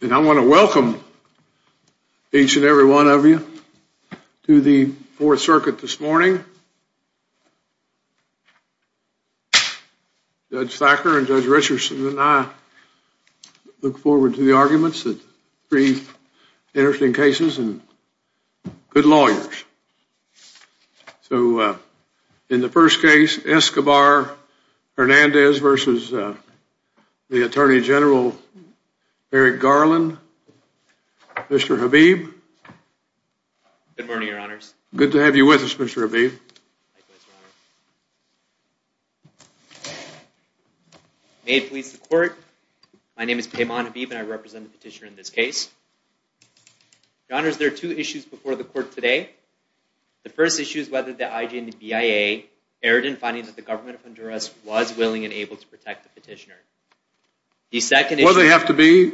And I want to welcome each and every one of you to the Fourth Circuit this morning. Judge Thacker and Judge Richardson and I look forward to the arguments, three interesting cases and good lawyers. So in the first case, Escobar-Hernandez versus the Attorney General Merrick Garland, Mr. Habib. Good morning, Your Honors. Good to have you with us, Mr. Habib. May it please the Court, my name is Payman Habib and I represent the petitioner in this case. Your Honors, there are two issues before the Court today. The first issue is whether the IJNBIA erred in finding that the government of Honduras was willing and able to protect the petitioner. The second issue... Well, they have to be...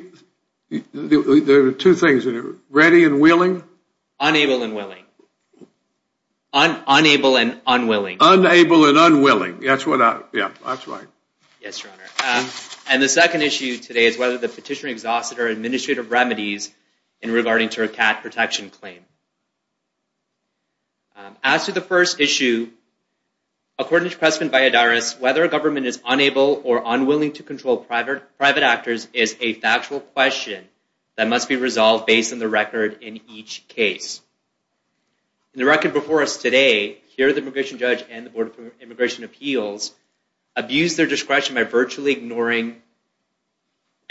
There are two things, ready and willing? Unable and willing. Unable and unwilling. Unable and unwilling, that's what I... Yeah, that's right. Yes, Your Honor. And the second issue today is whether the petitioner exhausted her administrative remedies in regarding to her cat protection claim. As to the first issue, according to Crestman-Valladares, whether a government is unable or unwilling to control private actors is a factual question that must be resolved based on the record in each case. In the record before us today, here the immigration judge and the Board of Immigration Appeals abused their discretion by virtually ignoring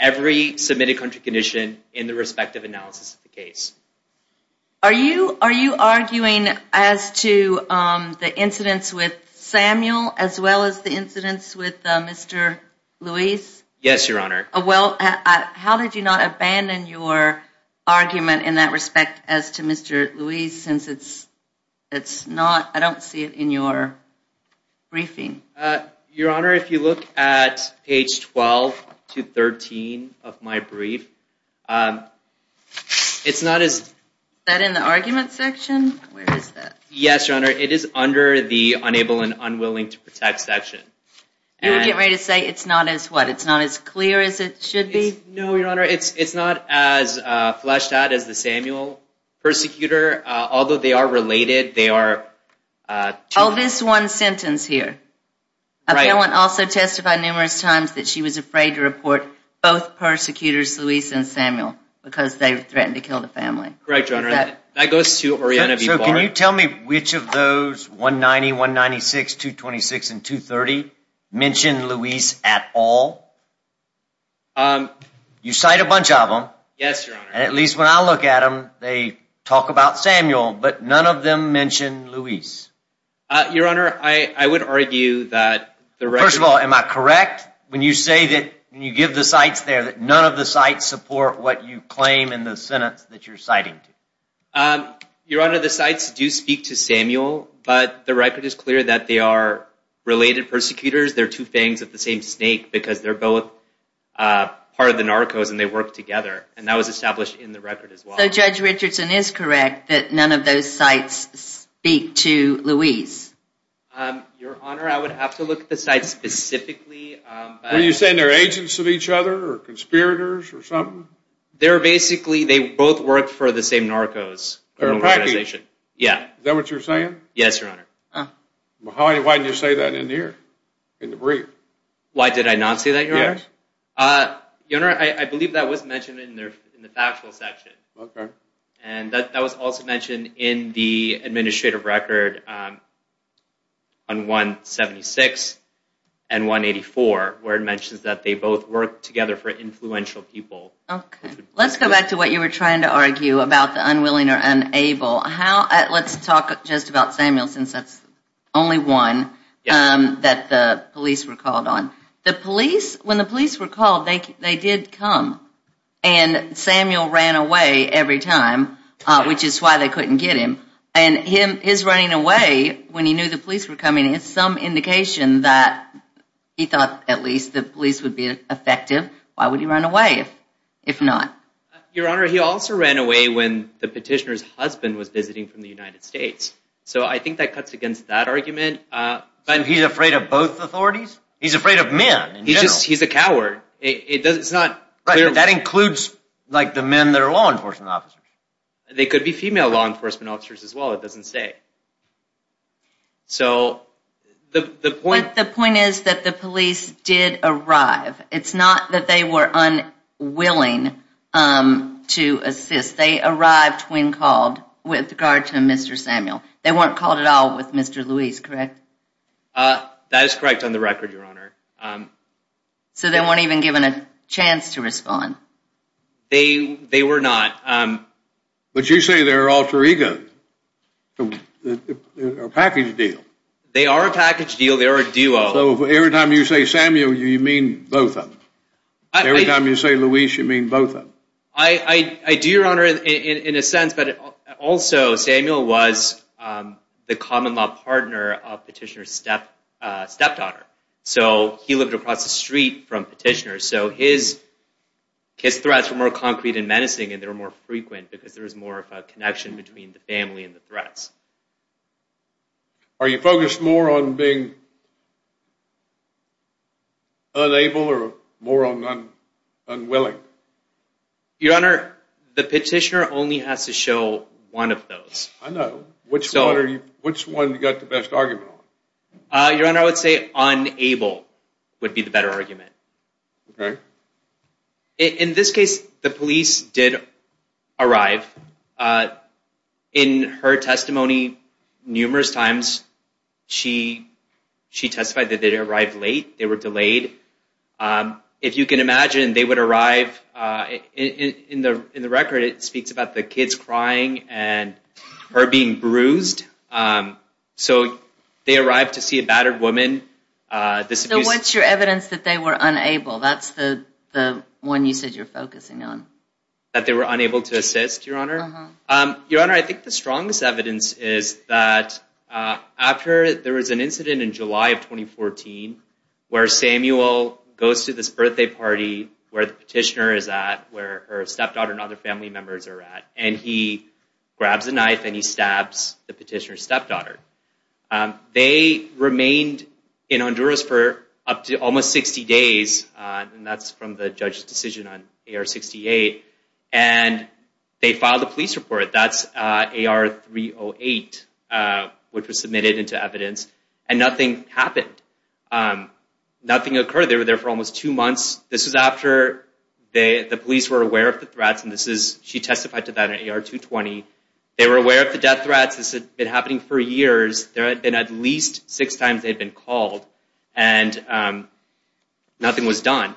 every submitted country condition in the respective analysis of the case. Are you arguing as to the incidents with Samuel as well as the incidents with Mr. Luis? Yes, Your Honor. Well, how did you not abandon your argument in that respect as to Mr. Luis since it's not... I don't see it in your briefing. Your Honor, if you look at page 12 to 13 of my brief, it's not as... Is that in the argument section? Where is that? Yes, Your Honor. It is under the unable and unwilling to protect section. You're getting ready to say it's not as what? It's not as clear as it should be? No, Your Honor. It's not as fleshed out as the Samuel persecutor, although they are related. They are... Well, this one sentence here, a felon also testified numerous times that she was afraid to report both persecutors, Luis and Samuel, because they threatened to kill the family. Correct, Your Honor. That goes to Oriana B. Barr. So can you tell me which of those 190, 196, 226, and 230 mention Luis at all? You cite a bunch of them. Yes, Your Honor. And at least when I look at them, they talk about Samuel, but none of them mention Luis. Your Honor, I would argue that the record... First of all, am I correct when you say that when you give the cites there that none of the cites support what you claim in the sentence that you're citing? Your Honor, the cites do speak to Samuel, but the record is clear that they are related persecutors. They're two fangs of the same snake because they're both part of the narcos and they work together and that was established in the record as well. So Judge Richardson is correct that none of those cites speak to Luis. Your Honor, I would have to look at the cites specifically. Are you saying they're agents of each other or conspirators or something? They're basically, they both work for the same narcos. Is that what you're saying? Yes, Your Honor. Why did you say that in here, in the brief? Why did I not say that, Your Honor? Your Honor, I believe that was mentioned in the factual section. And that was also mentioned in the administrative record on 176 and 184 where it mentions that they both work together for influential people. Let's go back to what you were trying to argue about the unwilling or unable. Let's talk just about Samuel since that's only one that the police were called on. The police, when the police were called, they did come and Samuel ran away every time, which is why they couldn't get him. And his running away, when he knew the police were coming, is some indication that he thought at least the police would be effective. Why would he run away if not? Your Honor, he also ran away when the petitioner's husband was visiting from the United States. So I think that cuts against that argument. But he's afraid of both authorities? He's afraid of men in general. He's a coward. It's not clear. Right, but that includes like the men that are law enforcement officers. They could be female law enforcement officers as well, it doesn't say. So the point is that the police did arrive. It's not that they were unwilling to assist. They arrived when called with regard to Mr. Samuel. They weren't called at all with Mr. Luis, correct? That is correct on the record, Your Honor. So they weren't even given a chance to respond? They were not. But you say they're alter egos, a package deal. They are a package deal, they are a duo. So every time you say Samuel, you mean both of them? Every time you say Luis, you mean both of them? I do, Your Honor, in a sense. But also, Samuel was the common law partner of Petitioner's stepdaughter. So he lived across the street from Petitioner. So his threats were more concrete and menacing and they were more frequent because there was more of a connection between the family and the threats. Are you focused more on being unable or more on unwilling? Your Honor, the Petitioner only has to show one of those. I know. Which one have you got the best argument on? Your Honor, I would say unable would be the better argument. In this case, the police did arrive. In her testimony, numerous times, she testified that they arrived late, they were delayed. If you can imagine, they would arrive, in the record it speaks about the kids crying and her being bruised. So they arrived to see a battered woman. So what's your evidence that they were unable? That's the one you said you're focusing on. That they were unable to assist, Your Honor? Your Honor, I think the strongest evidence is that after there was an incident in July of 2014, where Samuel goes to this birthday party where the Petitioner is at, where her stepdaughter and other family members are at, and he grabs a knife and he stabs the Petitioner's stepdaughter. They remained in Honduras for up to almost 60 days, and that's from the judge's decision on AR-68, and they filed a police report. That's AR-308, which was submitted into evidence, and nothing happened. Nothing occurred. They were there for almost two months. This was after the police were aware of the threats, and she testified to that in AR-220. They were aware of the death threats. This had been happening for years. There had been at least six times they had been called, and nothing was done.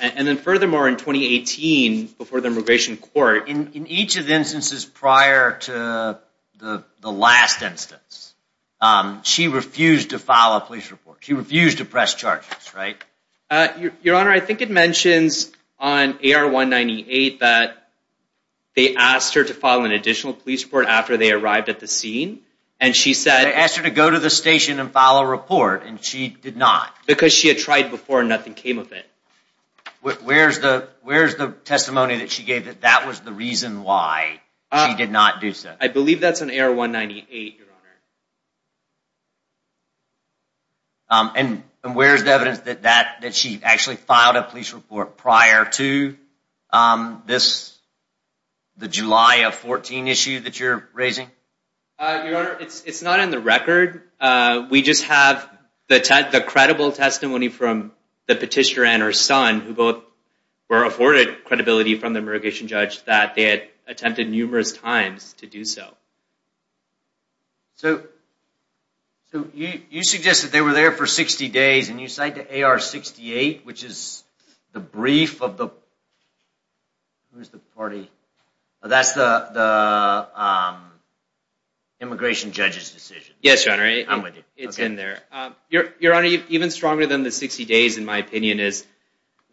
And then furthermore, in 2018, before the Immigration Court… In each of the instances prior to the last instance, she refused to file a police report. She refused to press charges, right? Your Honor, I think it mentions on AR-198 that they asked her to file an additional police report after they arrived at the scene, and she said… They asked her to go to the station and file a report, and she did not. Because she had tried before, and nothing came of it. Where's the testimony that she gave that that was the reason why she did not do so? I believe that's in AR-198, Your Honor. And where's the evidence that she actually filed a police report prior to this… The July of 14 issue that you're raising? Your Honor, it's not in the record. We just have the credible testimony from the petitioner and her son, who both were afforded credibility from the immigration judge, that they had attempted numerous times to do so. So you suggest that they were there for 60 days, and you cite the AR-68, which is the brief of the… Who is the party? That's the immigration judge's decision. Yes, Your Honor. I'm with you. It's in there. Your Honor, even stronger than the 60 days, in my opinion, is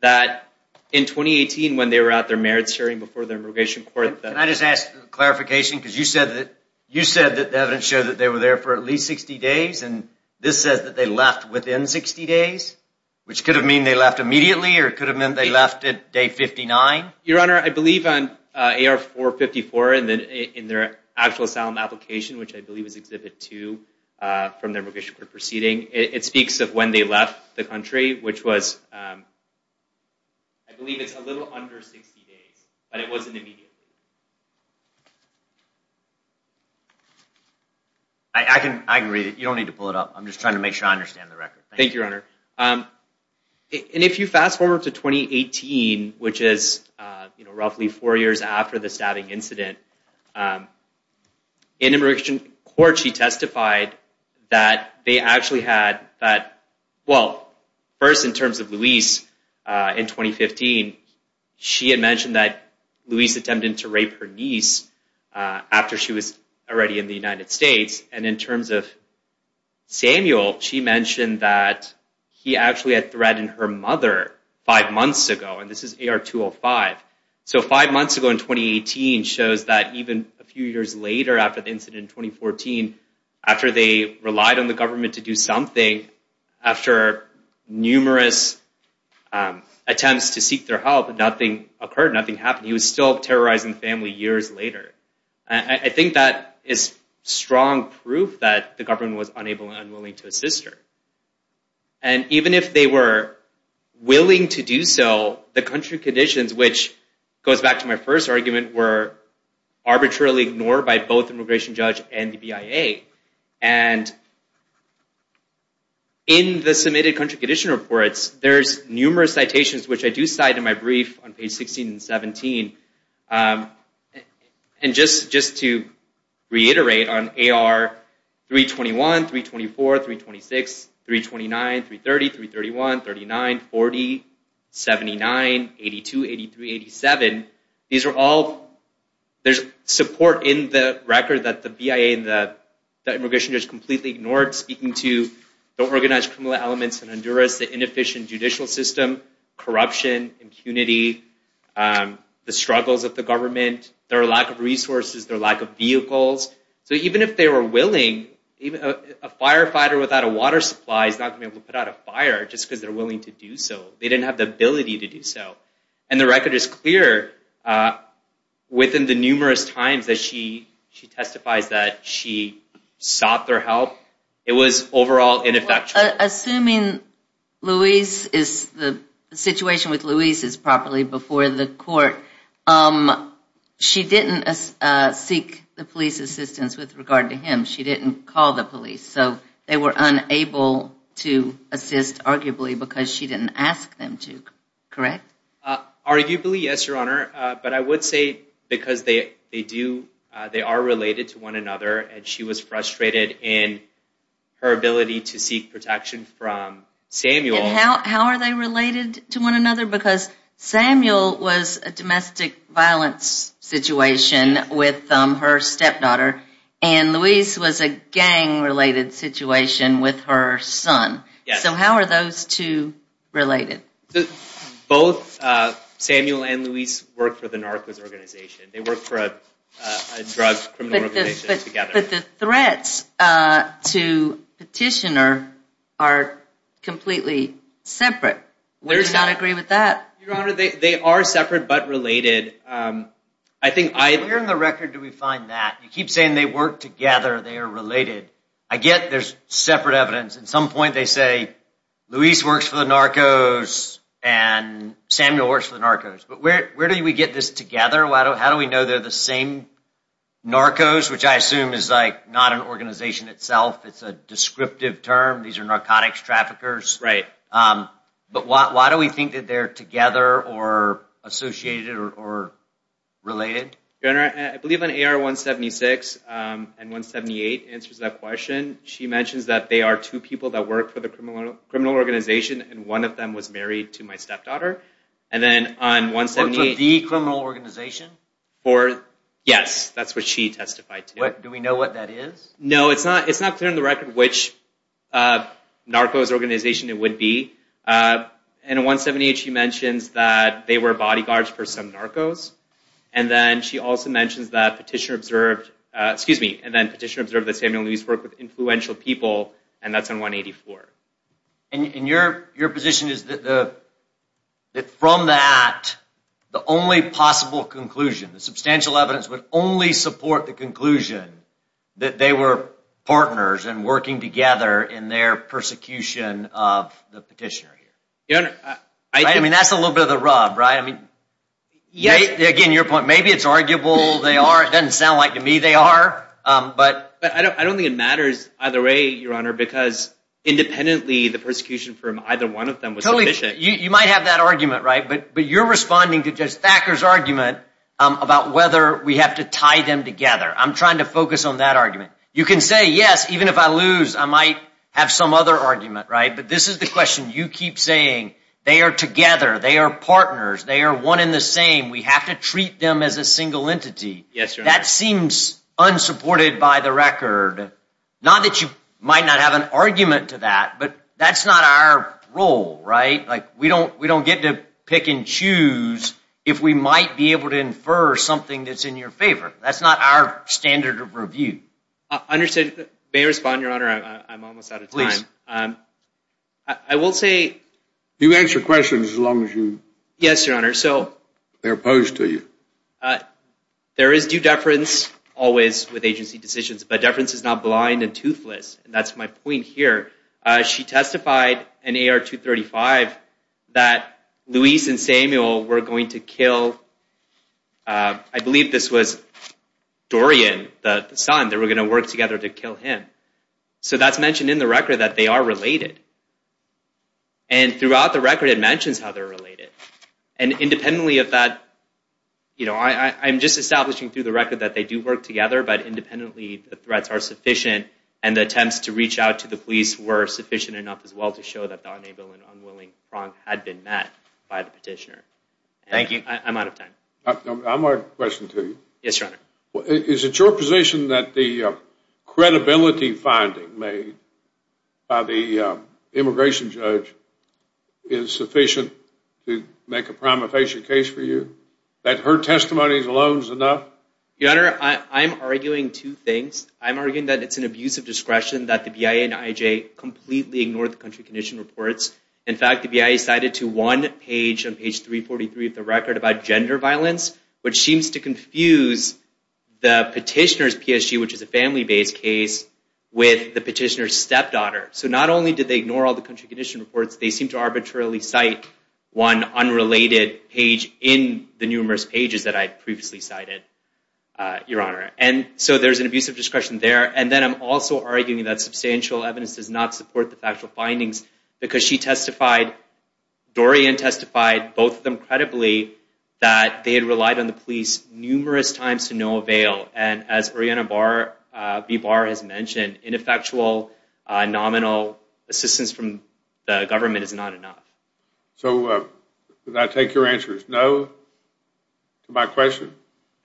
that in 2018, when they were at their merits hearing before the immigration court… Can I just ask for clarification? Because you said that the evidence showed that they were there for at least 60 days, and this says that they left within 60 days, which could have meant they left immediately, or it could have meant they left at day 59? Your Honor, I believe on AR-454, in their actual asylum application, which I believe is Exhibit 2 from their immigration court proceeding, it speaks of when they left the country, which was… I believe it's a little under 60 days, but it wasn't immediately. I can read it. You don't need to pull it up. I'm just trying to make sure I understand the record. Thank you, Your Honor. And if you fast forward to 2018, which is roughly four years after the stabbing incident, in immigration court, she testified that they actually had… Well, first, in terms of Luis, in 2015, she had mentioned that Luis attempted to rape her niece after she was already in the United States. And in terms of Samuel, she mentioned that he actually had threatened her mother five months ago, and this is AR-205. So, five months ago in 2018 shows that even a few years later after the incident in 2014, after they relied on the government to do something, after numerous attempts to seek their help, nothing occurred, nothing happened. He was still terrorizing the family years later. I think that is strong proof that the government was unable and unwilling to assist her. And even if they were willing to do so, the country conditions, which goes back to my first argument, were arbitrarily ignored by both immigration judge and the BIA. And in the submitted country condition reports, there's numerous citations, which I do cite in my brief on page 16 and 17. And just to reiterate on AR-321, 324, 326, 329, 330, 331, 39, 40, 79, 82, 83, 87, these are all, there's support in the record that the BIA and the immigration judge completely ignored speaking to the organized criminal elements in Honduras, the inefficient judicial system, corruption, impunity, the struggles of the government, their lack of resources, their lack of vehicles. So even if they were willing, a firefighter without a water supply is not going to be able to put out a fire just because they're willing to do so. They didn't have the ability to do so. And the record is clear within the numerous times that she testifies that she sought their help. It was overall ineffectual. Assuming Louise is, the situation with Louise is properly before the court, she didn't seek the police assistance with regard to him. She didn't call the police. So they were unable to assist arguably because she didn't ask them to, correct? Arguably, yes, Your Honor. But I would say because they do, they are related to one another, and she was frustrated in her ability to seek protection from Samuel. And how are they related to one another? Because Samuel was a domestic violence situation with her stepdaughter, and Louise was a gang-related situation with her son. So how are those two related? Both Samuel and Louise worked for the narcos organization. They worked for a drug criminal organization together. But the threats to Petitioner are completely separate. We just don't agree with that. Your Honor, they are separate but related. I think I... Where in the record do we find that? You keep saying they work together, they are related. I get there's separate evidence. At some point they say Louise works for the narcos and Samuel works for the narcos. But where do we get this together? How do we know they're the same narcos, which I assume is like not an organization itself. It's a descriptive term. These are narcotics traffickers. Right. But why do we think that they're together or associated or related? Your Honor, I believe on AR-176 and 178 answers that question. She mentions that they are two people that work for the criminal organization, and one of them was married to my stepdaughter. And then on 178... The criminal organization? Yes, that's what she testified to. Do we know what that is? No, it's not clear in the record which narcos organization it would be. And on 178 she mentions that they were bodyguards for some narcos. And then she also mentions that Petitioner observed... Excuse me, and then Petitioner observed that Samuel and Louise worked with influential people, and that's on 184. And your position is that from that, the only possible conclusion, the substantial evidence would only support the conclusion that they were partners and working together in their persecution of the Petitioner here. Your Honor, I... I mean, that's a little bit of the rub, right? I mean, again, your point, maybe it's arguable they are. It doesn't sound like to me they are, but... But I don't think it matters either way, Your Honor, because independently the persecution from either one of them was... Totally, you might have that argument, right? But you're responding to Judge Thacker's argument about whether we have to tie them together. I'm trying to focus on that argument. You can say, yes, even if I lose, I might have some other argument, right? But this is the question you keep saying. They are together, they are partners, they are one in the same. We have to treat them as a single entity. Yes, Your Honor. That seems unsupported by the record. Not that you might not have an argument to that, but that's not our role, right? Like, we don't get to pick and choose if we might be able to infer something that's in your favor. That's not our standard of review. Understood. May I respond, Your Honor? I'm almost out of time. Please. I will say... You answer questions as long as you... Yes, Your Honor, so... They're opposed to you. There is due deference always with agency decisions, but deference is not blind and toothless. And that's my point here. She testified in AR 235 that Luis and Samuel were going to kill... I believe this was Dorian, the son, they were going to work together to kill him. So that's mentioned in the record that they are related. And throughout the record, it mentions how they're related. And independently of that, you know, I'm just establishing through the record that they do work together, but independently, the threats are sufficient. And the attempts to reach out to the police were sufficient enough as well to show that the unable and unwilling Frank had been met by the petitioner. Thank you. I'm out of time. I have a question for you. Yes, Your Honor. Is it your position that the credibility finding made by the immigration judge is sufficient to make a prima facie case for you? That her testimony alone is enough? Your Honor, I'm arguing two things. I'm arguing that it's an abuse of discretion that the BIA and IJ completely ignored the country condition reports. In fact, the BIA cited to one page on page 343 of the record about gender violence, which seems to confuse the petitioner's PSG, which is a family-based case, with the petitioner's stepdaughter. So not only did they ignore all the country condition reports, they seem to arbitrarily cite one unrelated page in the numerous pages that I'd previously cited, Your Honor. And so there's an abuse of discretion there. And then I'm also arguing that substantial evidence does not support the factual findings because she testified, Dorian testified, both of them credibly, that they had relied on the police numerous times to no avail. And as Oriana B. Barr has mentioned, ineffectual nominal assistance from the government is not enough. So did that take your answers? No to my question,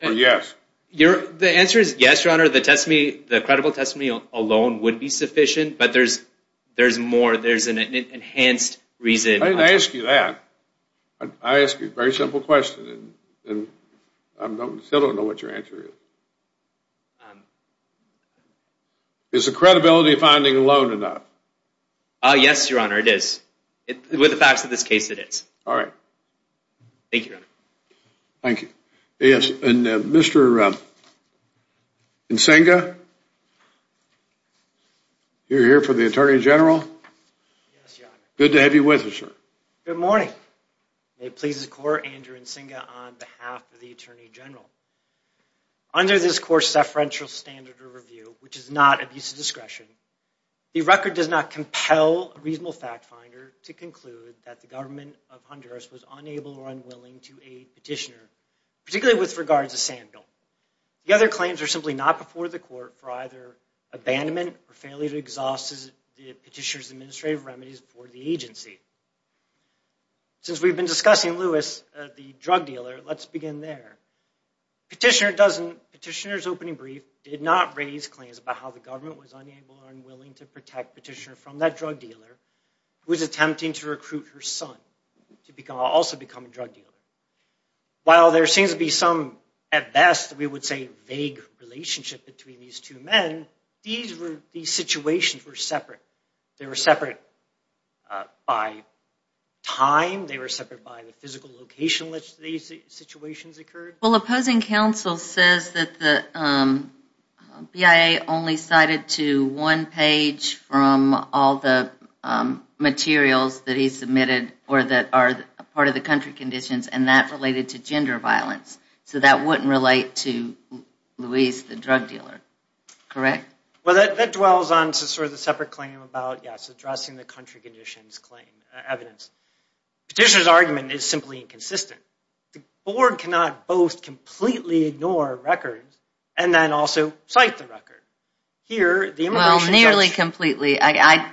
or yes? The answer is yes, Your Honor. The credible testimony alone would be sufficient, but there's more, there's an enhanced reason. I didn't ask you that. I asked you a very simple question, and I still don't know what your answer is. Is the credibility finding alone enough? Yes, Your Honor, it is. With the facts of this case, it is. All right. Thank you, Your Honor. Thank you. Yes, and Mr. Nsingha, you're here for the Attorney General? Yes, Your Honor. Good to have you with us, sir. Good morning. It pleases the court, Andrew Nsingha on behalf of the Attorney General. Under this court's deferential standard of review, which is not abuse of discretion, the record does not compel a reasonable fact finder to conclude that the government of Honduras was unable or unwilling to aid petitioner, particularly with regards to Sandville. The other claims are simply not before the court for either abandonment or failure to exhaust the petitioner's administrative remedies before the agency. Since we've been discussing Lewis, the drug dealer, let's begin there. Petitioner's opening brief did not raise claims about how the government was unable or unwilling to protect petitioner from that drug dealer who was attempting to recruit her son to also become a drug dealer. While there seems to be some, at best, we would say vague relationship between these two men, these situations were separate. They were separate by time, they were separate by the physical location in which these situations occurred. Well, opposing counsel says that the BIA only cited to one page from all the materials that he submitted or that are part of the country conditions and that related to gender violence. So that wouldn't relate to Lewis, the drug dealer, correct? Well, that dwells on sort of the separate claim about, yes, addressing the country conditions claim evidence. Petitioner's argument is simply inconsistent. The board cannot both completely ignore records and then also cite the record. Here, the immigration judge- Well, nearly completely. I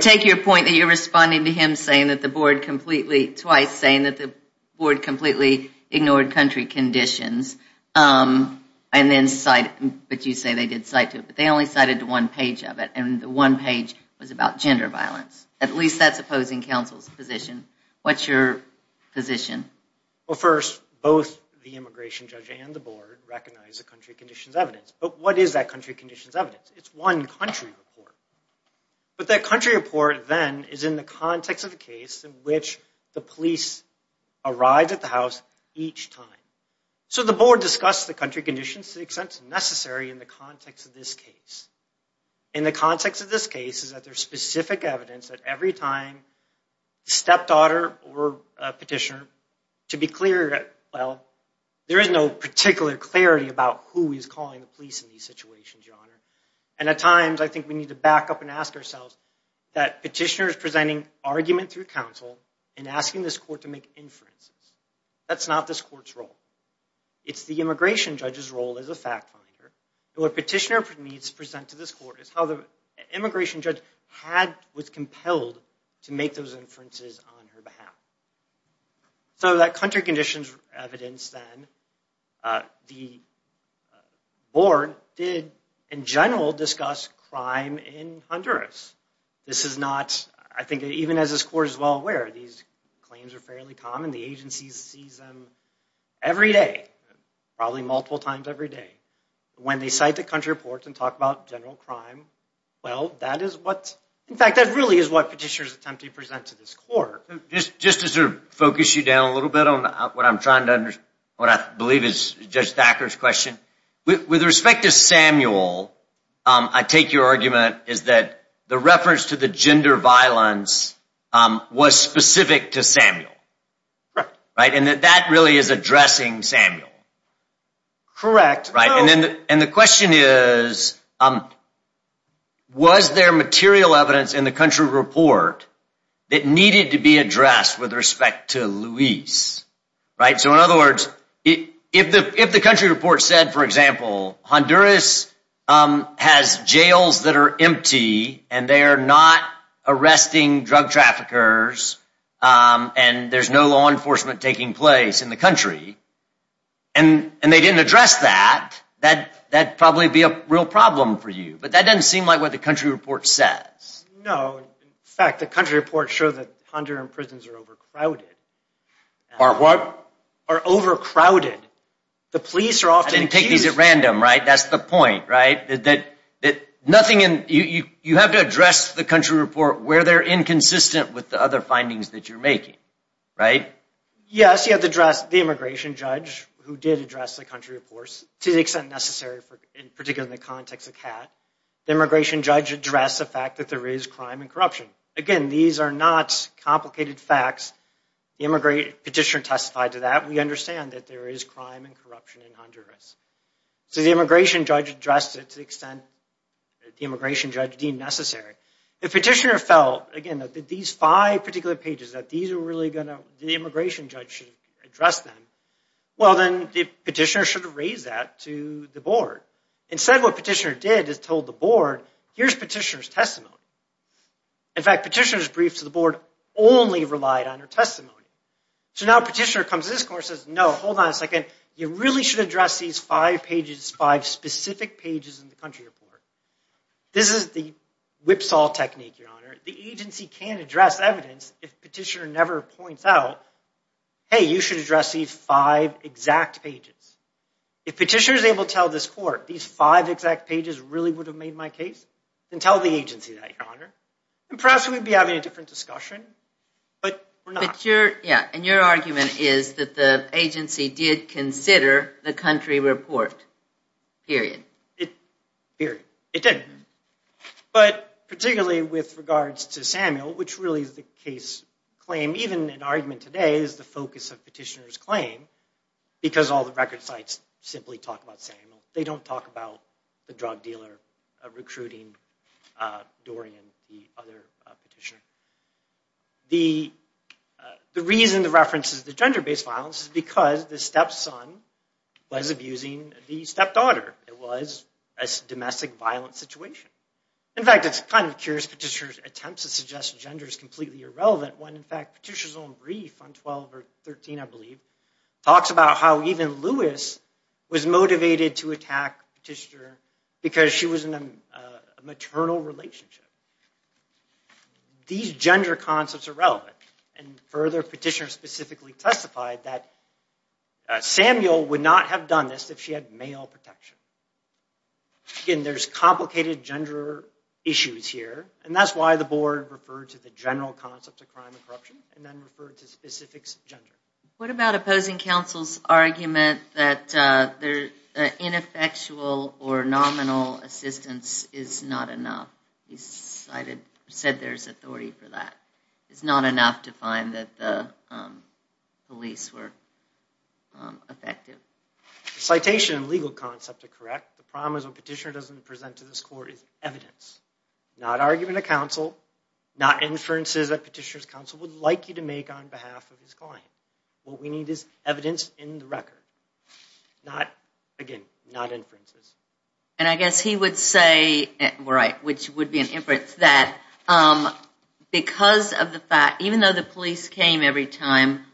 take your point that you're responding to him saying that the board completely, twice saying that the board completely ignored country conditions and then cite, but you say they did cite to it, but they only cited to one page of it and the one page was about gender violence. At least that's opposing counsel's position. What's your position? Well, first, both the immigration judge and the board recognize the country conditions evidence, but what is that country conditions evidence? It's one country report. But that country report then is in the context of a case in which the police arrived at the house each time. So the board discussed the country conditions to the extent necessary in the context of this case. In the context of this case is that there's specific evidence that every time the stepdaughter or a petitioner, to be clear, well, there is no particular clarity about who is calling the police in these situations, Your Honor, and at times, I think we need to back up and ask ourselves that petitioners presenting argument through counsel and asking this court to make inferences, that's not this court's role. It's the immigration judge's role as a fact finder. What petitioner needs to present to this court is how the immigration judge was compelled to make those inferences on her behalf. So that country conditions evidence then, the board did, in general, discuss crime in Honduras. This is not, I think even as this court is well aware, these claims are fairly common. The agency sees them every day, probably multiple times every day. When they cite the country reports and talk about general crime, well, that is what, in fact, that really is what petitioners attempt to present to this court. Just to sort of focus you down a little bit on what I'm trying to understand, what I believe is Judge Thacker's question, with respect to Samuel, I take your argument is that the reference to the gender violence was specific to Samuel, right? And that that really is addressing Samuel. Correct. Right, and the question is, was there material evidence in the country report that needed to be addressed with respect to Luis, right? So in other words, if the country report said, for example, Honduras has jails that are empty and they are not arresting drug traffickers and there's no law enforcement taking place in the country, and they didn't address that, that'd probably be a real problem for you. But that doesn't seem like what the country report says. No, in fact, the country reports show that Honduran prisons are overcrowded. Are what? Are overcrowded. The police are often accused- I didn't take these at random, right? That's the point, right? That nothing in, you have to address the country report where they're inconsistent with the other findings that you're making, right? Yes, you have to address the immigration judge who did address the country reports, to the extent necessary, particularly in the context of CAT. The immigration judge addressed the fact that there is crime and corruption. Again, these are not complicated facts. The petitioner testified to that. We understand that there is crime and corruption in Honduras. So the immigration judge addressed it to the extent that the immigration judge deemed necessary. If petitioner felt, again, that these five particular pages, that these are really gonna, the immigration judge should address them, well, then the petitioner should have raised that to the board. Instead, what petitioner did is told the board, here's petitioner's testimony. In fact, petitioner's brief to the board only relied on her testimony. So now petitioner comes to this court and says, no, hold on a second. You really should address these five pages, five specific pages in the country report. This is the whipsaw technique, Your Honor. The agency can't address evidence if petitioner never points out, hey, you should address these five exact pages. If petitioner's able to tell this court, these five exact pages really would have made my case, then tell the agency that, Your Honor. And perhaps we'd be having a different discussion, but we're not. Yeah, and your argument is that the agency did consider the country report, period. It, period. It did. But particularly with regards to Samuel, which really is the case claim, even in argument today is the focus of petitioner's claim, because all the record sites simply talk about Samuel. They don't talk about the drug dealer recruiting Dorian, the other petitioner. The reason the reference is the gender-based violence is because the stepson was abusing the stepdaughter. It was a domestic violence situation. In fact, it's kind of curious petitioner's attempts to suggest gender is completely irrelevant when, in fact, petitioner's own brief on 12 or 13, I believe, talks about how even Lewis was motivated to attack petitioner because she was in a maternal relationship. These gender concepts are relevant, and further, petitioner specifically testified that Samuel would not have done this if she had male protection. Again, there's complicated gender issues here, and that's why the board referred to the general concept of crime and corruption, and then referred to specifics of gender. What about opposing counsel's argument that ineffectual or nominal assistance is not enough? He said there's authority for that. It's not enough to find that the police were effective. Citation and legal concept are correct. The problem is when petitioner doesn't present to this court is evidence, not argument of counsel, not inferences that petitioner's counsel would like you to make on behalf of his client. What we need is evidence in the record, not, again, not inferences. And I guess he would say, right, which would be an inference, that because of the fact, even though the police came every time,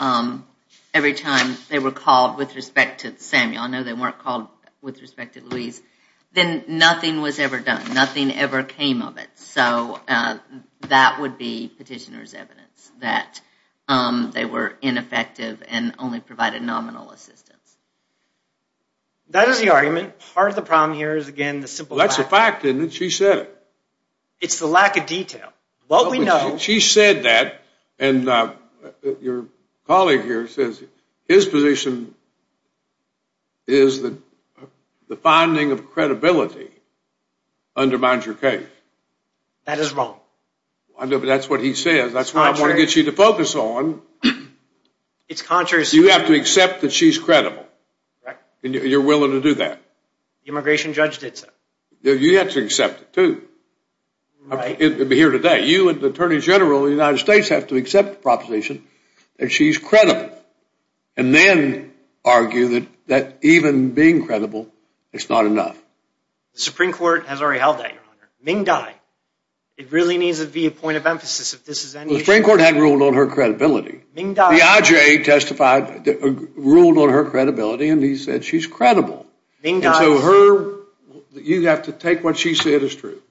every time they were called with respect to Samuel, I know they weren't called with respect to Lewis, then nothing was ever done. Nothing ever came of it. So that would be petitioner's evidence that they were ineffective and only provided nominal assistance. That is the argument. Part of the problem here is, again, the simple fact. That's a fact, isn't it? She said it. It's the lack of detail. What we know. She said that, and your colleague here says his position is that the finding of credibility undermines your case. That is wrong. I know, but that's what he says. That's what I want to get you to focus on. It's contrary. You have to accept that she's credible. You're willing to do that. Immigration judge did so. You have to accept it, too. It'd be here today. You and the Attorney General of the United States have to accept the proposition that she's credible and then argue that even being credible, it's not enough. The Supreme Court has already held that, Your Honor. Ming Dai. It really needs to be a point of emphasis if this is any issue. The Supreme Court hadn't ruled on her credibility. Ming Dai. The IJ testified, ruled on her credibility, and he said she's credible. Ming Dai. And so her, you have to take what she said as true.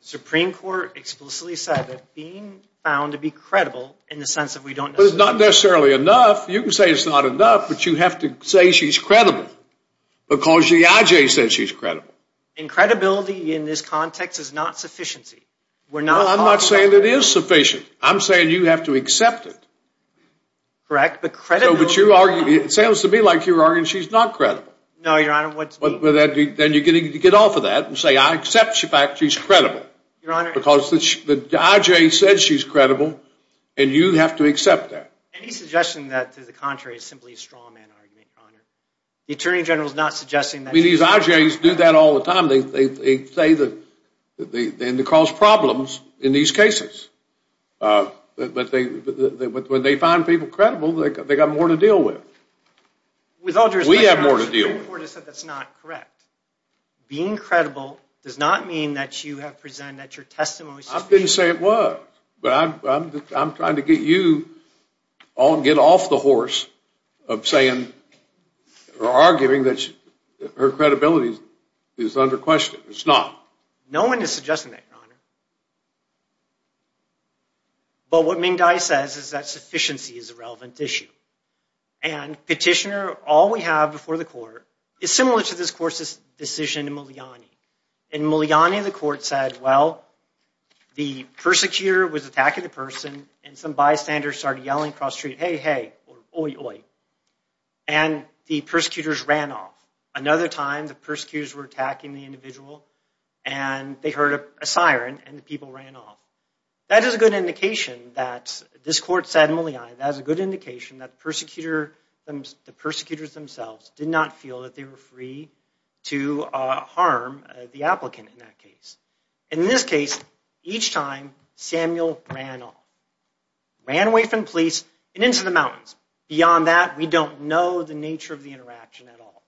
Supreme Court explicitly said that being found to be credible in the sense that we don't necessarily. But it's not necessarily enough. You can say it's not enough, but you have to say she's credible because the IJ says she's credible. And credibility in this context is not sufficiency. We're not talking about. Well, I'm not saying it is sufficient. I'm saying you have to accept it. Correct, but credibility. No, but you argue, it sounds to me like you're arguing she's not credible. No, Your Honor, what's. But then you're getting to get off of that and say I accept the fact she's credible. Your Honor. Because the IJ said she's credible and you have to accept that. Any suggestion that to the contrary is simply a straw man argument, Your Honor. The Attorney General's not suggesting that. I mean, these IJs do that all the time. They say that they end to cause problems in these cases. But when they find people credible, they got more to deal with. With all due respect, Your Honor. We have more to deal with. The Supreme Court has said that's not correct. Being credible does not mean that you have presented that your testimony is sufficient. I didn't say it was. But I'm trying to get you on, get off the horse of saying or arguing that her credibility is under question. It's not. No one is suggesting that, Your Honor. But what Ming Dai says is that sufficiency is a relevant issue. And petitioner, all we have before the court is similar to this court's decision in Muliani. In Muliani, the court said, well, the persecutor was attacking the person and some bystanders started yelling across the street, hey, hey, or oi, oi. And the persecutors ran off. Another time, the persecutors were attacking the individual and they heard a siren and the people ran off. That is a good indication that this court said in Muliani, that is a good indication that the persecutors themselves did not feel that they were free to harm the applicant in that case. In this case, each time, Samuel ran off. Ran away from the police and into the mountains. Beyond that, we don't know the nature of the interaction at all.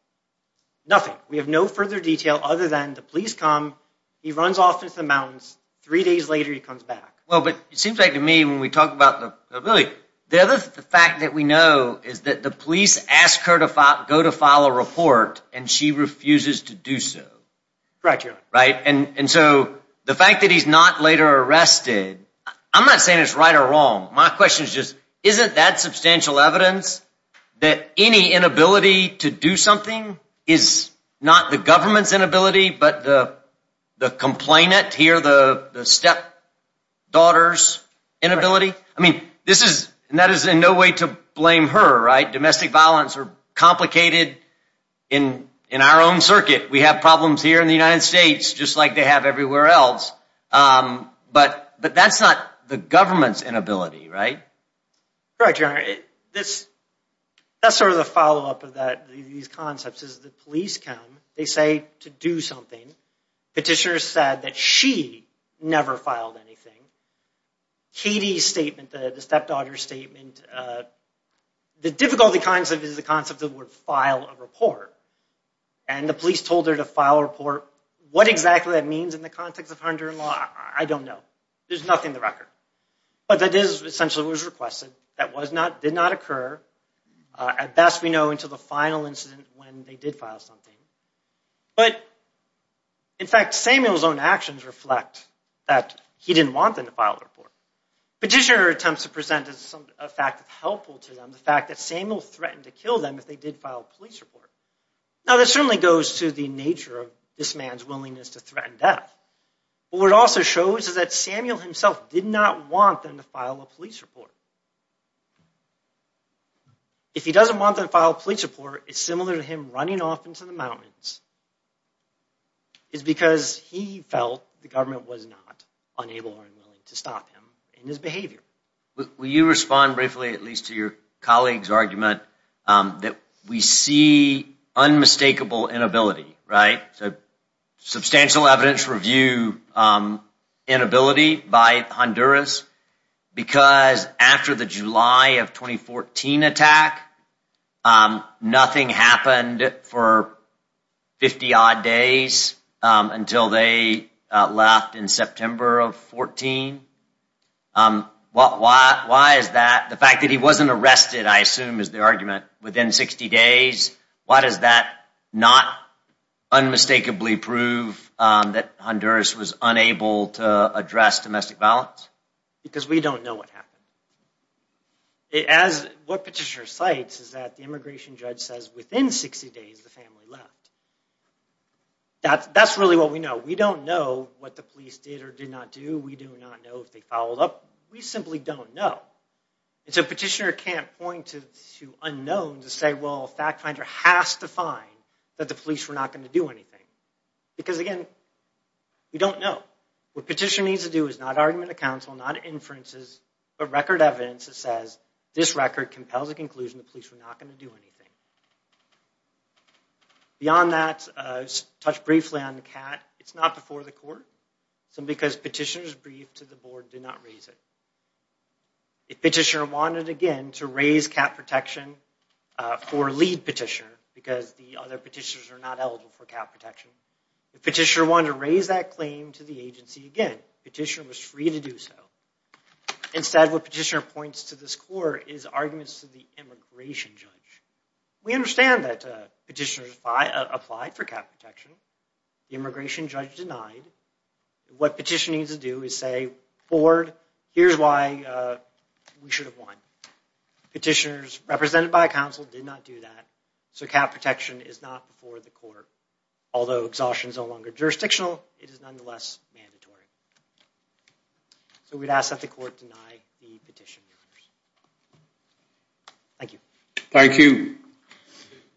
Nothing, we have no further detail other than the police come, he runs off into the mountains. Three days later, he comes back. Well, but it seems like to me, when we talk about the ability, the fact that we know is that the police ask her to go to file a report and she refuses to do so. Right, Your Honor. Right, and so the fact that he's not later arrested, I'm not saying it's right or wrong. My question is just, isn't that substantial evidence that any inability to do something is not the government's inability, but the complainant here, the stepdaughter's inability? I mean, this is, and that is in no way to blame her, right? Domestic violence are complicated in our own circuit. We have problems here in the United States, just like they have everywhere else. But that's not the government's inability, right? Correct, Your Honor. That's sort of the follow-up of these concepts, is the police come, they say to do something. Petitioner said that she never filed anything. Katie's statement, the stepdaughter's statement, the difficulty concept is the concept of would file a report. And the police told her to file a report. What exactly that means in the context of Hunter and Law, I don't know. There's nothing in the record. But that is essentially what was requested. That did not occur. At best, we know until the final incident when they did file something. But in fact, Samuel's own actions reflect that he didn't want them to file a report. Petitioner attempts to present a fact that's helpful to them, the fact that Samuel threatened to kill them if they did file a police report. Now, that certainly goes to the nature of this man's willingness to threaten death. But what it also shows is that Samuel himself did not want them to file a police report. If he doesn't want them to file a police report, it's similar to him running off into the mountains. It's because he felt the government was not unable or unwilling to stop him in his behavior. Will you respond briefly at least to your colleague's argument that we see unmistakable inability, right? So substantial evidence review inability by Honduras because after the July of 2014 attack, nothing happened for 50 odd days until they left in September of 14. Why is that? The fact that he wasn't arrested, I assume, is the argument within 60 days. Why does that not unmistakably prove that Honduras was unable to address domestic violence? Because we don't know what happened. What Petitioner cites is that the immigration judge says within 60 days, the family left. That's really what we know. We don't know what the police did or did not do. We do not know if they followed up. We simply don't know. And so Petitioner can't point to the unknown to say, well, a fact finder has to find that the police were not gonna do anything. Because again, we don't know. What Petitioner needs to do is not argument of counsel, not inferences, but record evidence that says this record compels a conclusion the police were not gonna do anything. Beyond that, touch briefly on the CAT. It's not before the court, simply because Petitioner's brief to the board did not raise it. If Petitioner wanted, again, to raise CAT protection for lead Petitioner because the other Petitioners are not eligible for CAT protection. If Petitioner wanted to raise that claim to the agency, again, Petitioner was free to do so. Instead, what Petitioner points to this court is arguments to the immigration judge. We understand that Petitioner applied for CAT protection. The immigration judge denied. What Petitioner needs to do is say, board, here's why we should have won. Petitioners represented by counsel did not do that. So, CAT protection is not before the court. Although exhaustion is no longer jurisdictional, it is nonetheless mandatory. So, we'd ask that the court deny the Petitioner. Thank you. Thank you.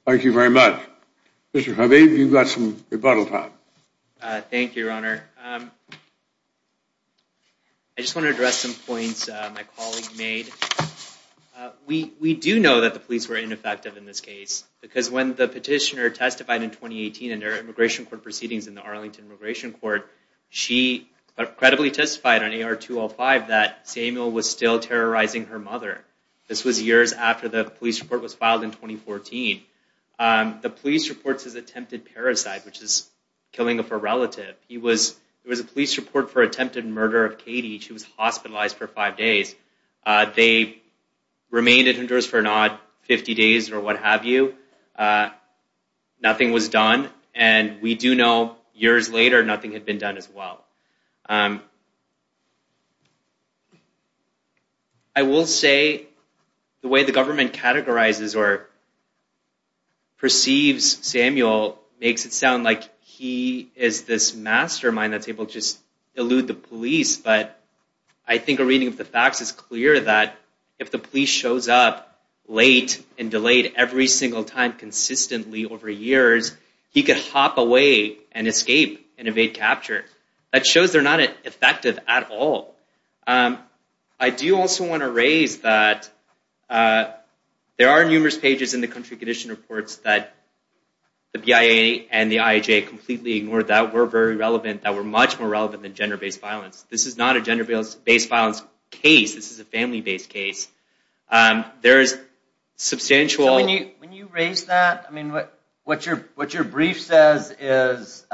Thank you very much. Mr. Harvey, you've got some rebuttal time. Thank you, Your Honor. I just wanna address some points my colleague made. We do know that the police were ineffective in this case because when the Petitioner testified in 2018 in their immigration court proceedings in the Arlington Immigration Court, she credibly testified on AR-205 that Samuel was still terrorizing her mother. This was years after the police report was filed in 2014. The police reports his attempted parasite, which is killing of her relative. He was, there was a police report for attempted murder of Katie. She was hospitalized for five days. They remained at Honduras for an odd 50 days or what have you. Nothing was done. And we do know years later, nothing had been done as well. I will say the way the government categorizes or perceives Samuel makes it sound like he is this mastermind that's able to just elude the police. But I think a reading of the facts is clear that if the police shows up late and delayed every single time consistently over years, he could hop away and escape and evade capture. That shows they're not effective at all. I do also wanna raise that there are numerous pages in the country condition reports that the BIA and the IAJ completely ignored that were very relevant, that were much more relevant than gender-based violence. This is not a gender-based violence case. This is a family-based case. There is substantial. When you raise that, I mean, what your brief says is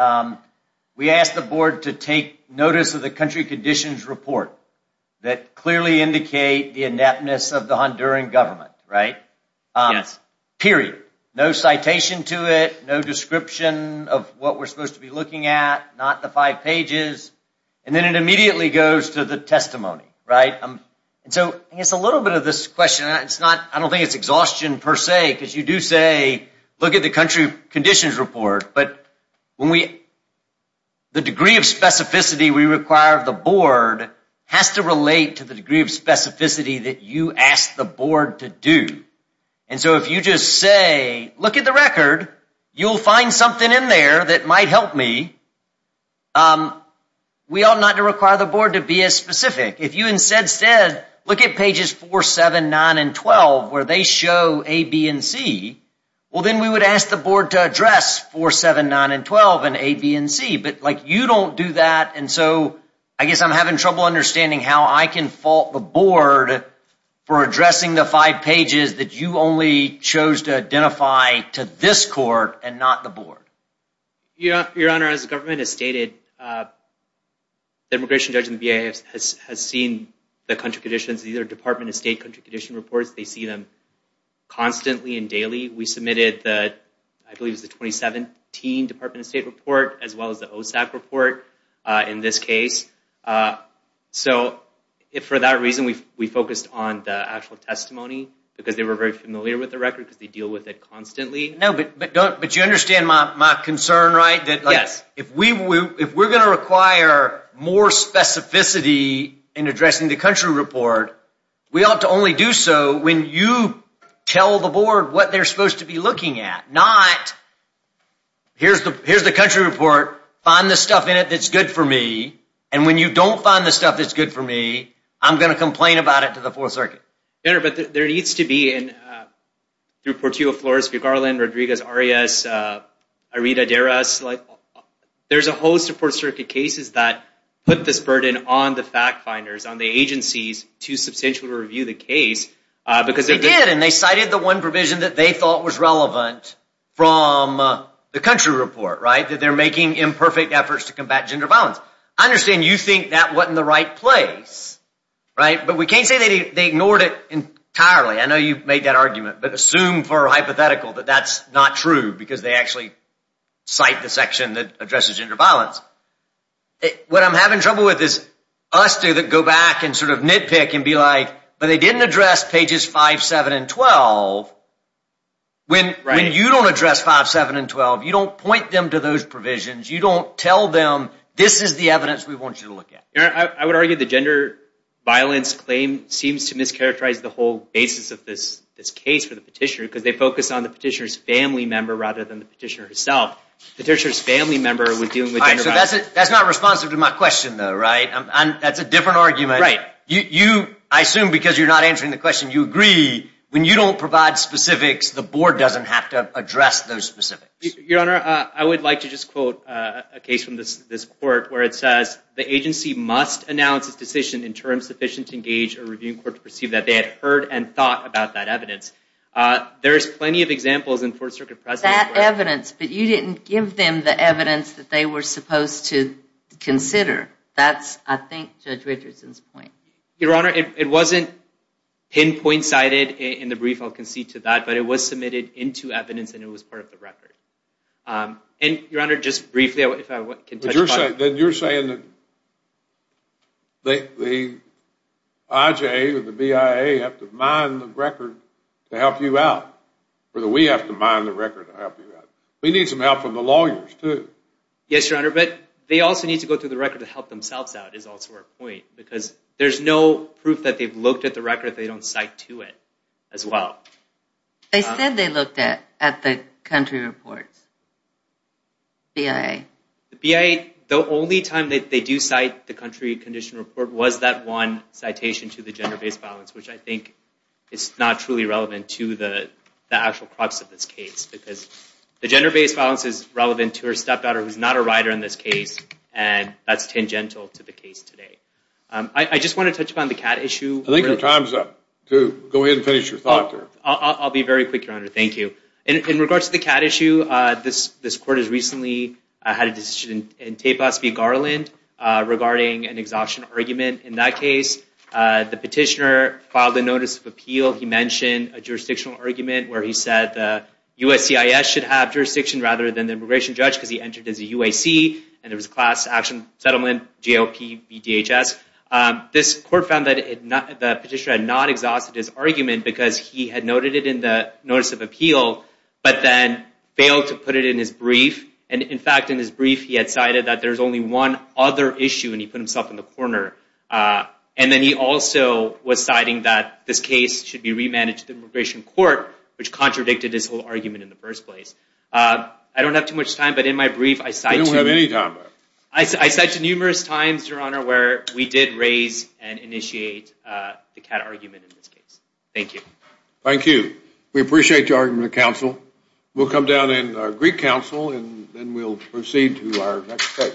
we asked the board to take notice of the country conditions report that clearly indicate the ineptness of the Honduran government, right? Yes. Period. No citation to it, no description of what we're supposed to be looking at, not the five pages. And then it immediately goes to the testimony, right? And so I guess a little bit of this question, I don't think it's exhaustion per se, because you do say, look at the country conditions report, but the degree of specificity we require of the board has to relate to the degree of specificity that you asked the board to do. And so if you just say, look at the record, you'll find something in there that might help me. We ought not to require the board to be as specific. If you instead said, look at pages four, seven, nine, and 12, where they show A, B, and C, well, then we would ask the board to address four, seven, nine, and 12 in A, B, and C, but you don't do that. And so I guess I'm having trouble understanding how I can fault the board for addressing the five pages that you only chose to identify to this court and not the board. Your Honor, as the government has stated, the immigration judge in the BIA has seen the country conditions, these are Department of State country condition reports, they see them constantly and daily. We submitted the, I believe it was the 2017 Department of State report, as well as the OSAC report in this case. So for that reason, we focused on the actual testimony, because they were very familiar with the record, because they deal with it constantly. No, but you understand my concern, right? That if we're gonna require more specificity in addressing the country report, we ought to only do so when you tell the board what they're supposed to be looking at, not here's the country report, find the stuff in it that's good for me, and when you don't find the stuff that's good for me, I'm gonna complain about it to the Fourth Circuit. Your Honor, but there needs to be, I mean, through Portillo, Flores, Vigarland, Rodriguez, Arias, Irita, Deras, there's a host of Fourth Circuit cases that put this burden on the fact finders, on the agencies to substantially review the case, because they're- They did, and they cited the one provision that they thought was relevant from the country report, right, that they're making imperfect efforts to combat gender violence. I understand you think that wasn't the right place, right, but we can't say they ignored it entirely. I know you've made that argument, but assume for hypothetical that that's not true, because they actually cite the section that addresses gender violence. What I'm having trouble with is us do that go back and sort of nitpick and be like, but they didn't address pages five, seven, and 12. When you don't address five, seven, and 12, you don't point them to those provisions, you don't tell them this is the evidence we want you to look at. Your Honor, I would argue the gender violence claim seems to mischaracterize the whole basis of this case for the petitioner, because they focus on the petitioner's family member rather than the petitioner herself. The petitioner's family member was dealing with gender violence. All right, so that's not responsive to my question, though, right? That's a different argument. Right. I assume because you're not answering the question, you agree when you don't provide specifics, the board doesn't have to address those specifics. Your Honor, I would like to just quote a case from this court where it says, the agency must announce its decision in terms sufficient to engage a reviewing court to perceive that they had heard and thought about that evidence. There's plenty of examples in Fourth Circuit precedent where- That evidence, but you didn't give them the evidence that they were supposed to consider. That's, I think, Judge Richardson's point. Your Honor, it wasn't pinpoint cited in the brief, I'll concede to that, but it was submitted into evidence and it was part of the record. And, Your Honor, just briefly, if I can touch upon- Then you're saying that the IJA or the BIA have to mine the record to help you out, or that we have to mine the record to help you out. We need some help from the lawyers, too. Yes, Your Honor, but they also need to go through the record to help themselves out, is also our point, because there's no proof that they've looked at the record if they don't cite to it, as well. They said they looked at the country reports, BIA. The BIA, the only time that they do cite the country condition report was that one citation to the gender-based violence, which I think is not truly relevant to the actual crux of this case, because the gender-based violence is relevant to her stepdaughter, who's not a writer in this case, and that's tangential to the case today. I just want to touch upon the CAT issue. I think your time's up, too. Go ahead and finish your thought there. I'll be very quick, Your Honor, thank you. In regards to the CAT issue, this court has recently had a decision in Tapos v. Garland regarding an exhaustion argument. In that case, the petitioner filed a notice of appeal. He mentioned a jurisdictional argument where he said the USCIS should have jurisdiction rather than the immigration judge, because he entered as a UAC, and it was a class action settlement, GOP, BDHS. This court found that the petitioner had not exhausted his argument, because he had noted it in the notice of appeal, but then failed to put it in his brief. And in fact, in his brief, he had cited that there's only one other issue, and he put himself in the corner. And then he also was citing that this case should be remanded to the immigration court, which contradicted his whole argument in the first place. I don't have too much time, but in my brief, I cite to- You don't have any time left. I cite to numerous times, Your Honor, where we did raise and initiate the CAT argument in this case. Thank you. Thank you. We appreciate your argument, counsel. We'll come down in our Greek council, and then we'll proceed to our next case.